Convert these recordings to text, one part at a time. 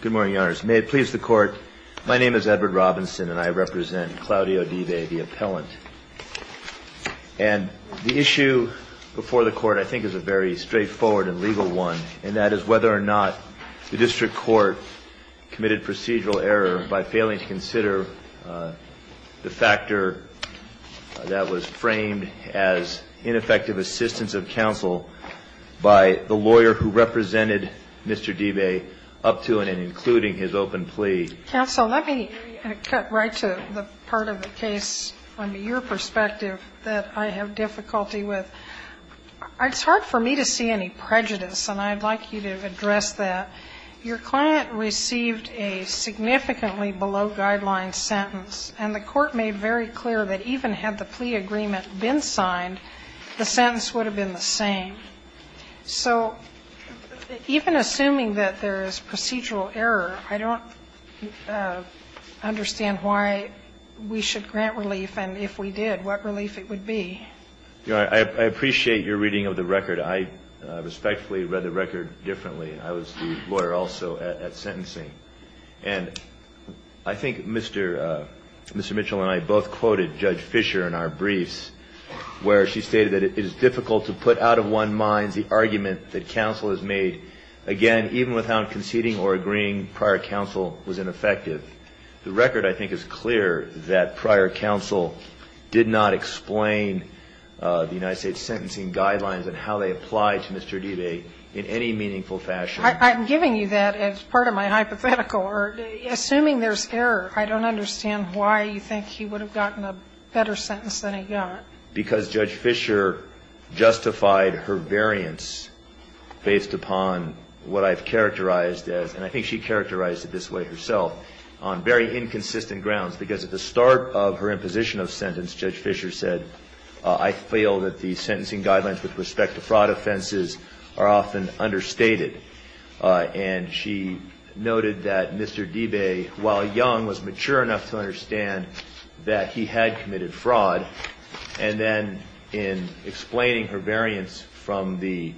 Good morning, your honors. May it please the court, my name is Edward Robinson and I represent Claudio Dibe, the appellant. And the issue before the court I think is a very straightforward and legal one, and that is whether or not the district court committed procedural error by failing to consider the factor that was framed as ineffective assistance of counsel by the lawyer who represented Mr. Dibe up to and including his open plea. Counsel, let me cut right to the part of the case from your perspective that I have difficulty with. It's hard for me to see any prejudice, and I'd like you to address that. Your client received a significantly below-guideline sentence, and the court made very clear that even had the plea agreement been signed, the sentence would have been the same. So even assuming that there is procedural error, I don't understand why we should grant relief, and if we did, what relief it would be. I appreciate your reading of the record. I respectfully read the record differently. I was the lawyer also at sentencing. And I think Mr. Mitchell and I both quoted Judge Fisher in our briefs, where she stated that it is difficult to put out of one's mind the argument that counsel has made, again, even without conceding or agreeing prior counsel was ineffective. The record, I think, is clear that prior counsel did not explain the United States sentencing guidelines and how they apply to Mr. Dibe in any meaningful fashion. I'm giving you that as part of my hypothetical. Assuming there's error, I don't understand why you think he would have gotten a better sentence than he got. Because Judge Fisher justified her variance based upon what I've characterized as, and I think she characterized it this way herself, on very inconsistent grounds. Because at the start of her imposition of sentence, Judge Fisher said, I feel that the sentencing guidelines with respect to fraud offenses are often understated. And she noted that Mr. Dibe, while young, was mature enough to understand that he had committed fraud. And then in explaining her variance from the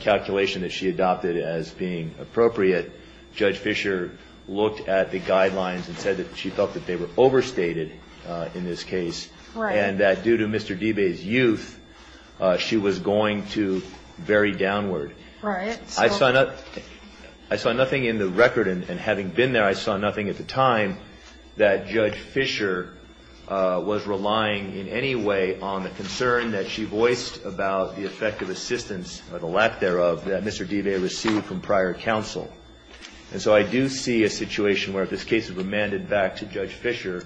calculation that she adopted as being appropriate, Judge Fisher looked at the guidelines and said that she felt that they were overstated in this case. And that due to Mr. Dibe's youth, she was going to very downward. I saw nothing in the record, and having been there, I saw nothing at the time that Judge Fisher was relying in any way on the concern that she voiced about the effective assistance, or the lack thereof, that Mr. Dibe received from prior counsel. And so I do see a situation where if this case is remanded back to Judge Fisher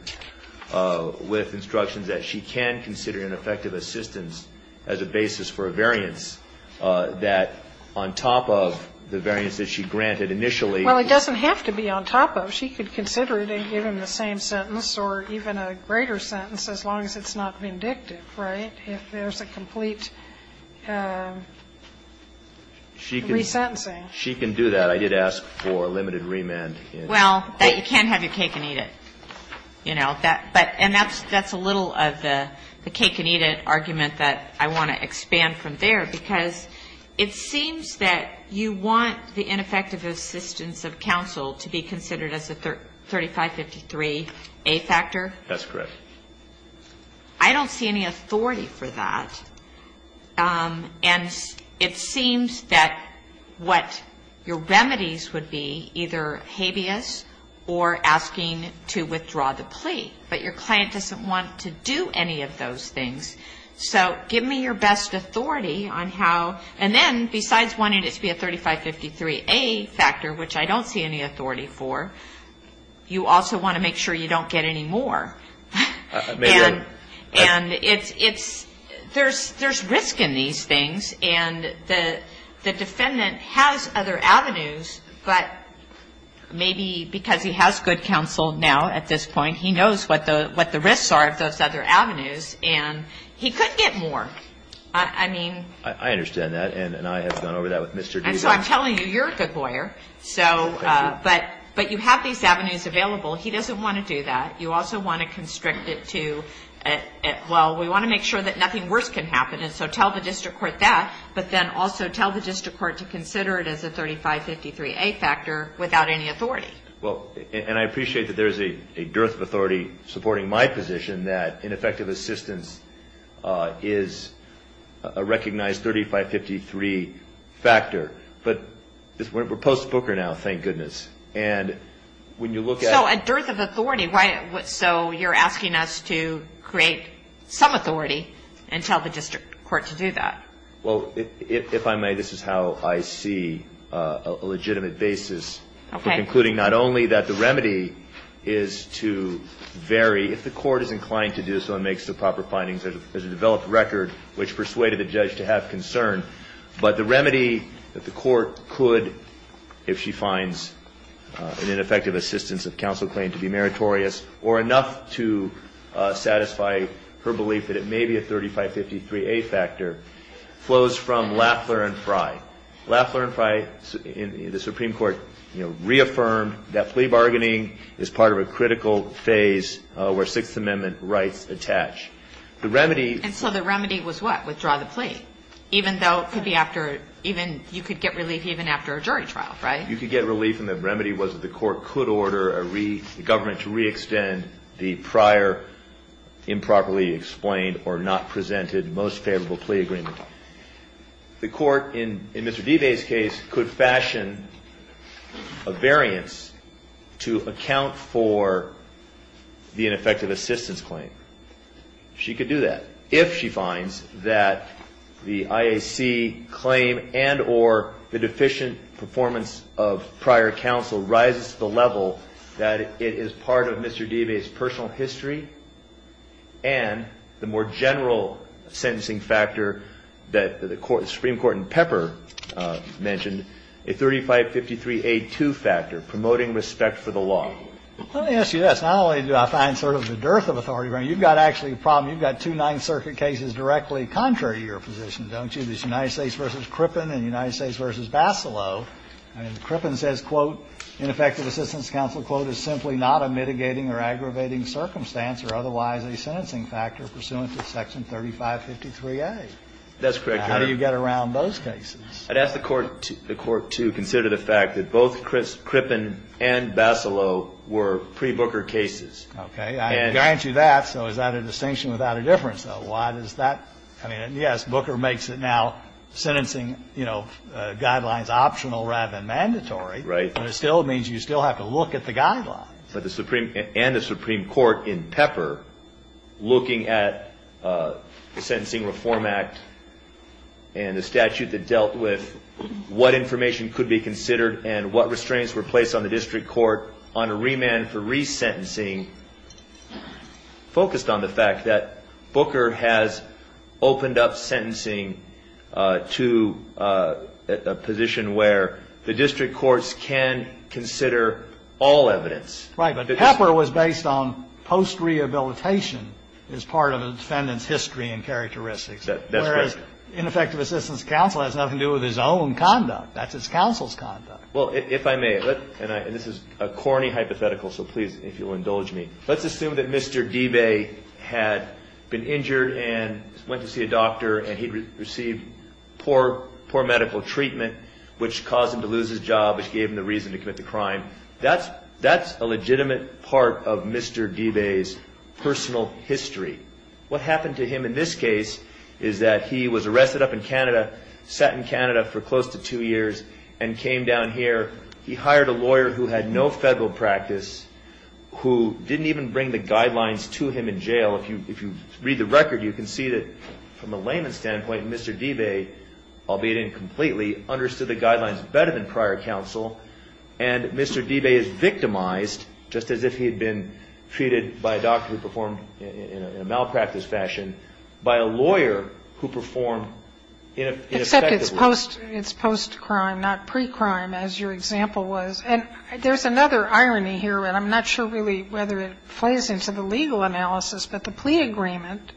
with instructions that she can consider an effective assistance as a basis for a variance that on top of the variance that she granted initially. Well, it doesn't have to be on top of. She could consider it and give him the same sentence or even a greater sentence, as long as it's not vindictive, right, if there's a complete resentencing. She can do that. I did ask for a limited remand. Well, that you can have your cake and eat it, you know. And that's a little of the cake-and-eat-it argument that I want to expand from there, because it seems that you want the ineffective assistance of counsel to be considered as a 3553A factor. That's correct. I don't see any authority for that. And it seems that what your remedies would be either habeas or asking to withdraw the plea. But your client doesn't want to do any of those things. So give me your best authority on how. And then, besides wanting it to be a 3553A factor, which I don't see any authority for, you also want to make sure you don't get any more. And it's, there's risk in these things. And the defendant has other avenues, but maybe because he has good counsel now at this point, he knows what the risks are of those other avenues. And he could get more. I mean. I understand that. And I have gone over that with Mr. Deese. And so I'm telling you, you're a good lawyer. So, but you have these avenues available. He doesn't want to do that. You also want to constrict it to, well, we want to make sure that nothing worse can happen. And so tell the district court that. But then also tell the district court to consider it as a 3553A factor without any authority. Well, and I appreciate that there's a dearth of authority supporting my position that ineffective assistance is a recognized 3553 factor. But we're post-Booker now, thank goodness. And when you look at. So a dearth of authority. Why, so you're asking us to create some authority and tell the district court to do that. Well, if I may, this is how I see a legitimate basis for concluding not only that the remedy is to vary. If the court is inclined to do so and makes the proper findings, there's a developed record which persuaded the judge to have concern. But the remedy that the court could, if she finds an ineffective assistance of counsel claim to be meritorious or enough to satisfy her belief that it may be a 3553A factor flows from Lafler and Frey. Lafler and Frey, the Supreme Court, you know, reaffirmed that plea bargaining is part of a critical phase where Sixth Amendment rights attach. The remedy. And so the remedy was what? Withdraw the plea. Even though it could be after, even, you could get relief even after a jury trial, right? You could get relief and the remedy was that the court could order a government to re-extend the prior improperly explained or not presented most favorable plea agreement. The court in Mr. Debay's case could fashion a variance to account for the ineffective assistance claim. She could do that. If she finds that the IAC claim and or the deficient performance of prior counsel rises to the level that it is part of Mr. Debay's personal history and the more general sentencing factor that the Supreme Court in Pepper mentioned, a 3553A2 factor, promoting respect for the law. Let me ask you this. Not only do I find sort of the dearth of authority, you've got actually a problem. You've got two Ninth Circuit cases directly contrary to your position, don't you? There's United States v. Crippen and United States v. Bacillot. And Crippen says, quote, ineffective assistance counsel, quote, is simply not a mitigating or aggravating circumstance or otherwise a sentencing factor pursuant to section 3553A. That's correct, Your Honor. How do you get around those cases? I'd ask the Court to consider the fact that both Crippen and Bacillot were pre-Booker cases. Okay. I grant you that, so is that a distinction without a difference, though? Why does that – I mean, yes, Booker makes it now sentencing, you know, guidelines optional rather than mandatory. Right. But it still means you still have to look at the guidelines. But the Supreme – and the Supreme Court in Pepper, looking at the Sentencing Reform Act and the statute that dealt with what information could be considered and what restraints were placed on the district court on a remand for resentencing, focused on the fact that Booker has opened up sentencing to a position where the district courts can consider all evidence. Right. But Pepper was based on post-rehabilitation as part of a defendant's history and characteristics. That's correct. Whereas ineffective assistance counsel has nothing to do with his own conduct. That's his counsel's conduct. Well, if I may – and this is a corny hypothetical, so please, if you'll indulge me. Let's assume that Mr. Debay had been injured and went to see a doctor and he received poor medical treatment, which caused him to lose his job, which gave him the reason to commit the crime. That's a legitimate part of Mr. Debay's personal history. What happened to him in this case is that he was arrested up in Canada, sat in Canada for close to two years, and came down here. He hired a lawyer who had no federal practice, who didn't even bring the guidelines to him in jail. If you read the record, you can see that, from a layman's standpoint, Mr. Debay, albeit incompletely, understood the guidelines better than prior counsel. And Mr. Debay is victimized, just as if he had been treated by a doctor who performed in a malpractice fashion, by a lawyer who performed ineffectively. And so I don't think that that's the case, except it's post-crime, not pre-crime, as your example was. And there's another irony here, and I'm not sure really whether it plays into the legal analysis, but the plea agreement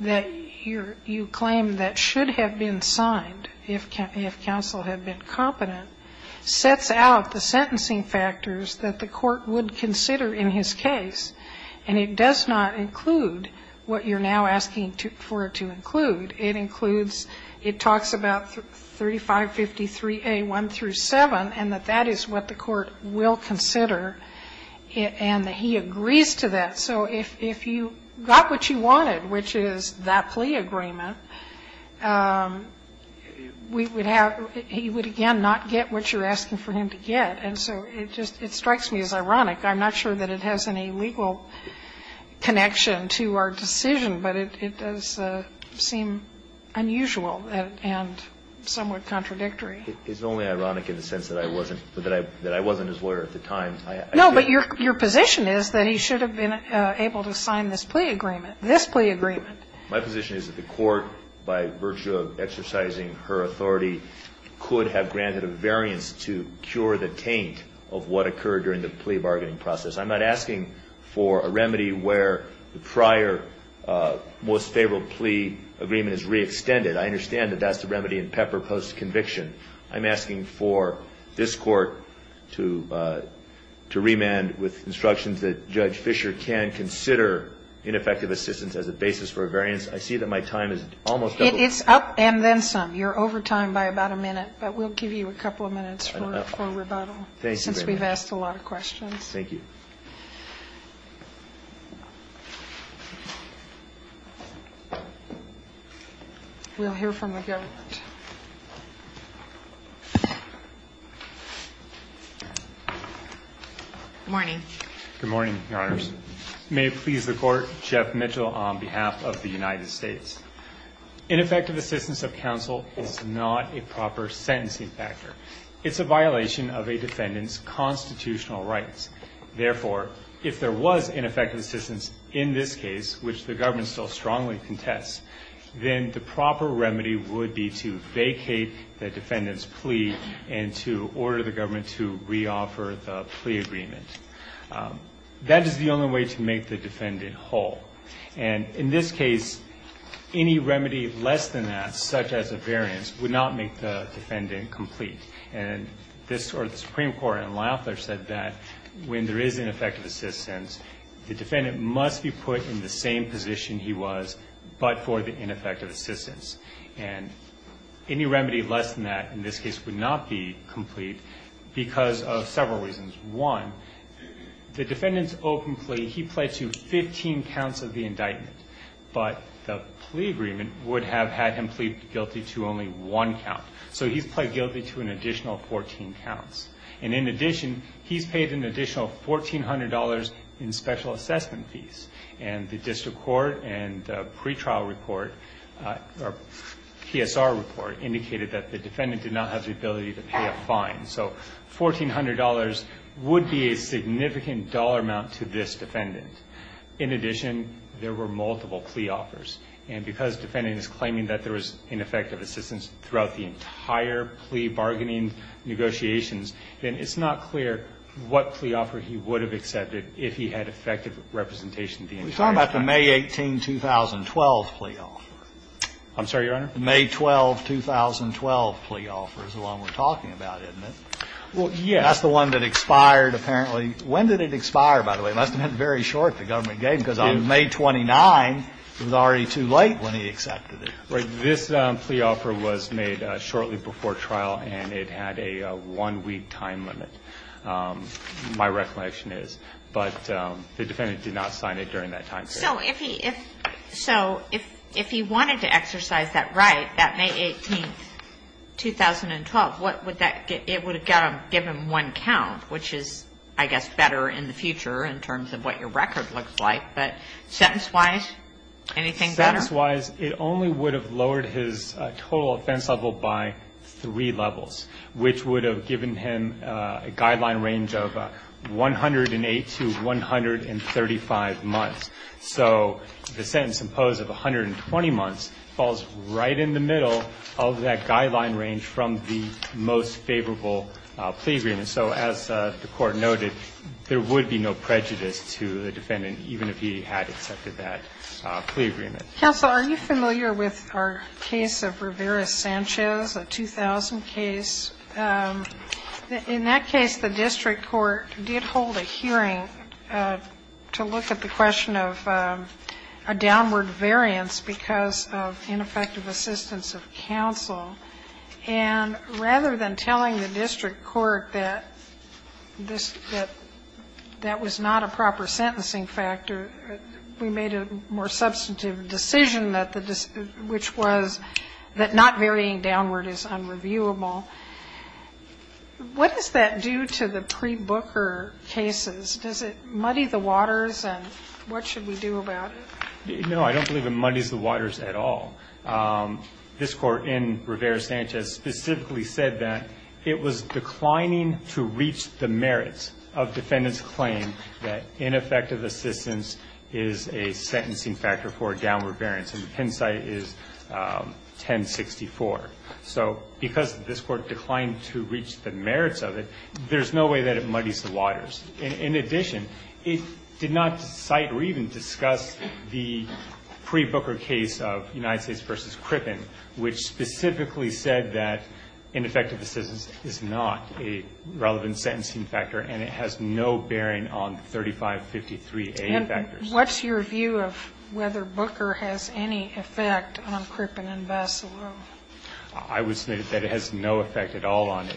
that you claim that should have been signed if counsel had been competent sets out the sentencing factors that the court would consider in his case, and it does not include what you're now asking for it to include. It includes, it talks about 3553A1-7, and that that is what the court will consider, and that he agrees to that. So if you got what you wanted, which is that plea agreement, we would have, he would again not get what you're asking for him to get. And so it just, it strikes me as ironic. I'm not sure that it has any legal connection to our decision, but it does seem unusual and somewhat contradictory. It's only ironic in the sense that I wasn't his lawyer at the time. No, but your position is that he should have been able to sign this plea agreement, this plea agreement. My position is that the court, by virtue of exercising her authority, could have granted a variance to cure the taint of what occurred during the plea bargaining process. I'm not asking for a remedy where the prior most favorable plea agreement is re-extended. I understand that that's the remedy in Pepper post-conviction. I'm asking for this court to remand with instructions that Judge Fischer can consider ineffective assistance as a basis for a variance. I see that my time is almost doubled. It's up and then some. You're over time by about a minute, but we'll give you a couple of minutes for rebuttal. Thank you very much. Since we've asked a lot of questions. Thank you. We'll hear from the government. Good morning. Good morning, your honors. May it please the court. Jeff Mitchell on behalf of the United States. Ineffective assistance of counsel is not a proper sentencing factor. It's a violation of a defendant's constitutional rights. Therefore, if there was ineffective assistance in this case, which the government still strongly contests, then the proper remedy would be to vacate the defendant's plea and to order the government to re-offer the plea agreement. That is the only way to make the defendant whole. And in this case, any remedy less than that, such as a variance, would not make the defendant complete. And the Supreme Court in Lafler said that when there is ineffective assistance, the defendant must be put in the same position he was but for the ineffective assistance. And any remedy less than that in this case would not be complete because of several reasons. One, the defendant's open plea, he pled to 15 counts of the indictment, but the plea agreement would have had him plead guilty to only one count. So he's pled guilty to an additional 14 counts. And in addition, he's paid an additional $1,400 in special assessment fees. And the district court and pretrial report, PSR report, indicated that the defendant did not have the ability to pay a fine. So $1,400 would be a significant dollar amount to this defendant. In addition, there were multiple plea offers. And because the defendant is claiming that there was ineffective assistance throughout the entire plea bargaining negotiations, then it's not clear what plea offer he would have accepted if he had effective representation the entire time. We're talking about the May 18, 2012 plea offer. I'm sorry, Your Honor? The May 12, 2012 plea offer is the one we're talking about, isn't it? Well, yes. That's the one that expired, apparently. When did it expire, by the way? It must have been very short, the government gave him, because on May 29, it was already too late when he accepted it. Right. This plea offer was made shortly before trial, and it had a one-week time limit, my recollection is. But the defendant did not sign it during that time period. So if he wanted to exercise that right, that May 18, 2012, what would that get? It would have given him one count, which is, I guess, better in the future in terms of what your record looks like. But sentence-wise, anything better? Sentence-wise, it only would have lowered his total offense level by three levels, which would have given him a guideline range of 108 to 135 months. So the sentence imposed of 120 months falls right in the middle of that guideline range from the most favorable plea agreement. So as the Court noted, there would be no prejudice to the defendant, even if he had accepted that plea agreement. Counsel, are you familiar with our case of Rivera-Sanchez, a 2000 case? In that case, the district court did hold a hearing to look at the question of a downward variance because of ineffective assistance of counsel. And rather than telling the district court that that was not a proper sentencing factor, we made a more substantive decision, which was that not varying downward is unreviewable. What does that do to the pre-Booker cases? Does it muddy the waters, and what should we do about it? No, I don't believe it muddies the waters at all. This Court in Rivera-Sanchez specifically said that it was declining to reach the merits of defendant's claim that ineffective assistance is a sentencing factor for a downward variance. And the Penn site is 1064. So because this Court declined to reach the merits of it, there's no way that it muddies the waters. In addition, it did not cite or even discuss the pre-Booker case of United States v. Crippen, which specifically said that ineffective assistance is not a relevant sentencing factor and it has no bearing on 3553A factors. What's your view of whether Booker has any effect on Crippen and Bassalo? I would say that it has no effect at all on it.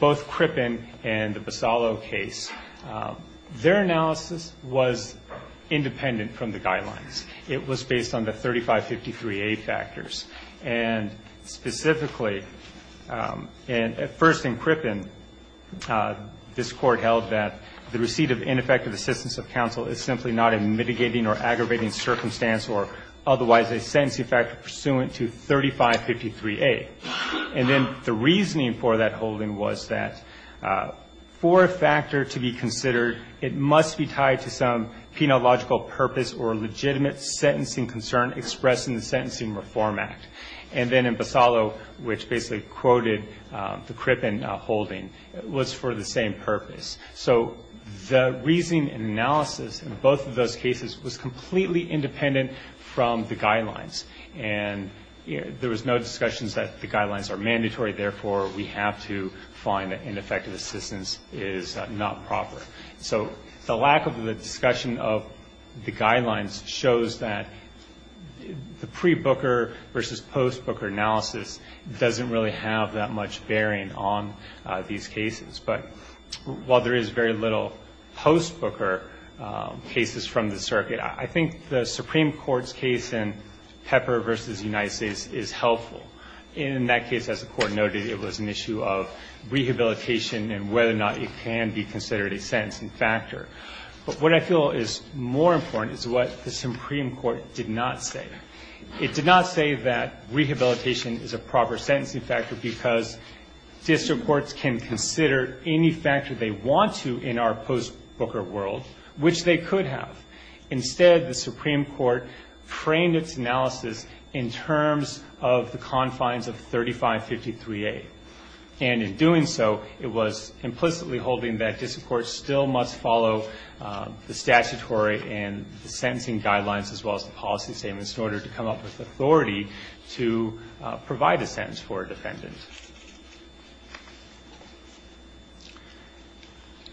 Both Crippen and the Bassalo case, their analysis was independent from the guidelines. It was based on the 3553A factors. And specifically, at first in Crippen, this Court held that the receipt of ineffective assistance of counsel is simply not a mitigating or aggravating circumstance or otherwise a sentencing factor pursuant to 3553A. And then the reasoning for that holding was that for a factor to be considered, it must be tied to some penological purpose or legitimate sentencing concern expressed in the Sentencing Reform Act. And then in Bassalo, which basically quoted the Crippen holding, it was for the same purpose. So the reasoning and analysis in both of those cases was completely independent from the guidelines. And there was no discussion that the guidelines are mandatory, therefore, we have to find that ineffective assistance is not proper. So the lack of the discussion of the guidelines shows that the pre-Booker versus post-Booker analysis doesn't really have that much bearing on these cases. But while there is very little post-Booker cases from the circuit, I think the Supreme Court's case in Pepper versus United States is helpful. In that case, as the Court noted, it was an issue of rehabilitation and whether or not it can be considered a sentencing factor. But what I feel is more important is what the Supreme Court did not say. It did not say that rehabilitation is a proper sentencing factor because district courts can consider any factor they want to in our post-Booker world, which they could have. Instead, the Supreme Court framed its analysis in terms of the confines of 3553A. And in doing so, it was implicitly holding that district courts still must follow the statutory and the sentencing guidelines as well as the policy statements in order to come up with authority to provide a sentence for a defendant.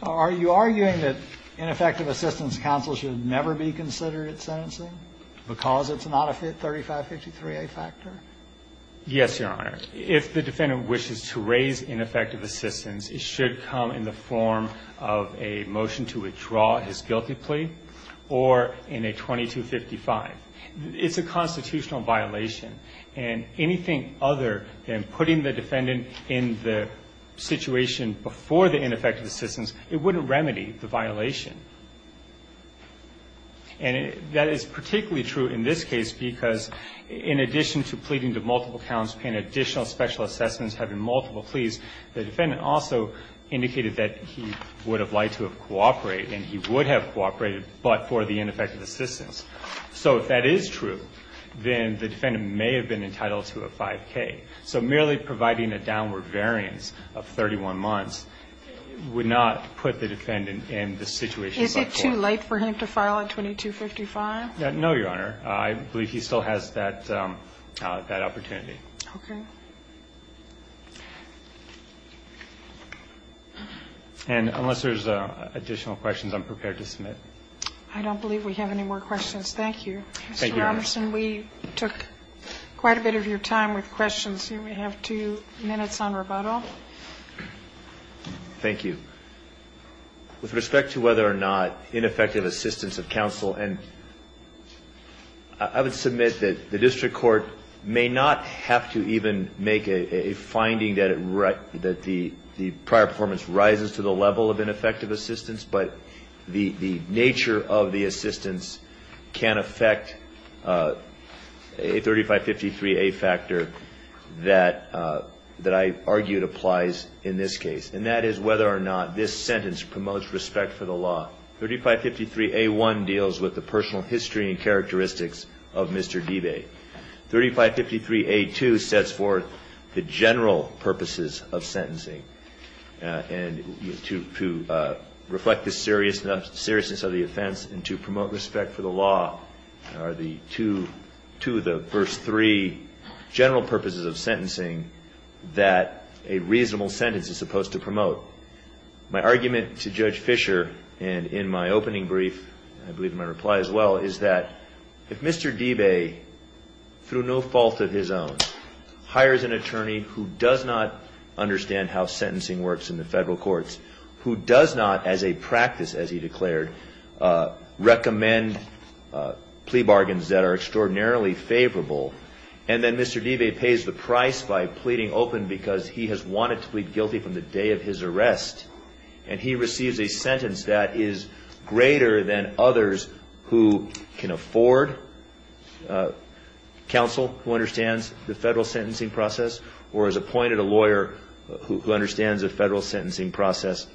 Are you arguing that ineffective assistance counsel should never be considered at sentencing because it's not a 3553A factor? Yes, Your Honor. If the defendant wishes to raise ineffective assistance, it should come in the form of a motion to withdraw his guilty plea or in a 2255. It's a constitutional violation. And anything other than putting the defendant in the situation before the ineffective assistance, it wouldn't remedy the violation. And that is particularly true in this case because in addition to pleading to multiple counts, paying additional special assessments, having multiple pleas, the defendant also indicated that he would have liked to have cooperated, and he would have cooperated, but for the ineffective assistance. So if that is true, then the defendant may have been entitled to a 5K. So merely providing a downward variance of 31 months would not put the defendant in the situation before. Is it too late for him to file a 2255? No, Your Honor. I believe he still has that opportunity. Okay. And unless there's additional questions, I'm prepared to submit. I don't believe we have any more questions. Thank you. Thank you, Your Honor. Mr. Robertson, we took quite a bit of your time with questions. We have two minutes on rebuttal. Thank you. With respect to whether or not ineffective assistance of counsel, and I would submit that the district court may not have to even make a finding that the prior performance rises to the level of ineffective assistance, but the nature of the assistance can affect a 3553A factor that I argue applies in this case, and that is whether or not this sentence promotes respect for the law. 3553A1 deals with the personal history and characteristics of Mr. Debay. 3553A2 sets forth the general purposes of sentencing. And to reflect the seriousness of the offense and to promote respect for the law are the two of the first three general purposes of sentencing that a reasonable sentence is supposed to promote. My argument to Judge Fischer, and in my opening brief, I believe in my reply as well, is that if Mr. Debay, through no fault of his own, hires an attorney who does not understand how sentencing works in the federal courts, who does not, as a practice, as he declared, recommend plea bargains that are extraordinarily favorable, and then Mr. Debay pays the price by pleading open because he has wanted to plead guilty from the day of his arrest, and he receives a sentence that is greater than others who can afford counsel who understands the federal sentencing process or has appointed a lawyer who understands the federal sentencing process,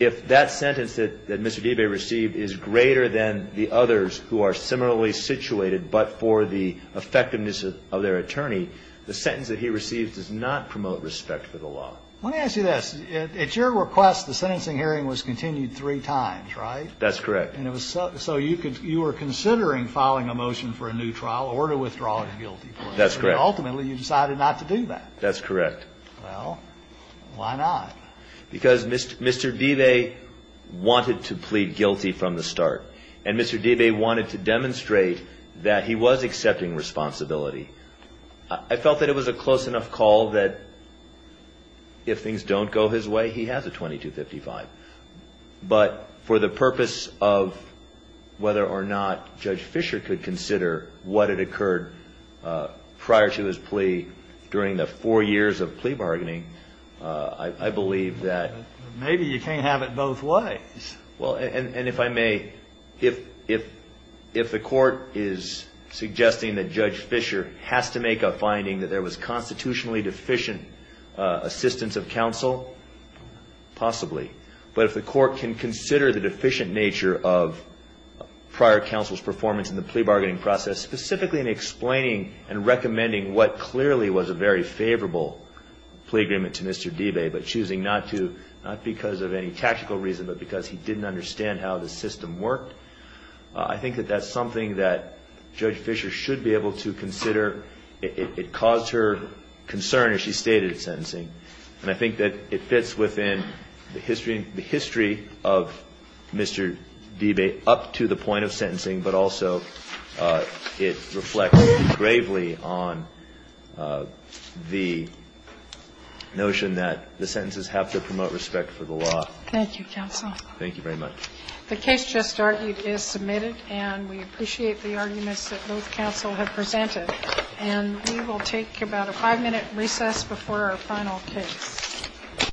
if that sentence that Mr. Debay received is greater than the others who are similarly situated but for the effectiveness of their attorney, the sentence that he receives does not promote respect for the law. Let me ask you this. At your request, the sentencing hearing was continued three times, right? That's correct. And it was so you were considering filing a motion for a new trial or to withdraw guilty. That's correct. Ultimately, you decided not to do that. That's correct. Well, why not? Because Mr. Debay wanted to plead guilty from the start, and Mr. Debay wanted to demonstrate that he was accepting responsibility. I felt that it was a close enough call that if things don't go his way, he has a 2255. But for the purpose of whether or not Judge Fischer could consider what had occurred prior to his plea during the four years of plea bargaining, I believe that... Maybe you can't have it both ways. Well, and if I may, if the court is suggesting that Judge Fischer has to make a finding that there was constitutionally deficient assistance of counsel, possibly. But if the court can consider the deficient nature of prior counsel's performance in the plea bargaining process, specifically in explaining and recommending what clearly was a very favorable plea agreement to Mr. Debay, but choosing not to, not because of any tactical reason, but because he didn't understand how the system worked, I think that that's something that Judge Fischer should be able to consider. It caused her concern, as she stated, in sentencing. And I think that it fits within the history of Mr. Debay up to the point of sentencing, but also it reflects gravely on the notion that the sentences have to promote respect for the law. Thank you, counsel. Thank you very much. The case just argued is submitted, and we appreciate the arguments that both counsel have presented. And we will take about a five-minute recess before our final case.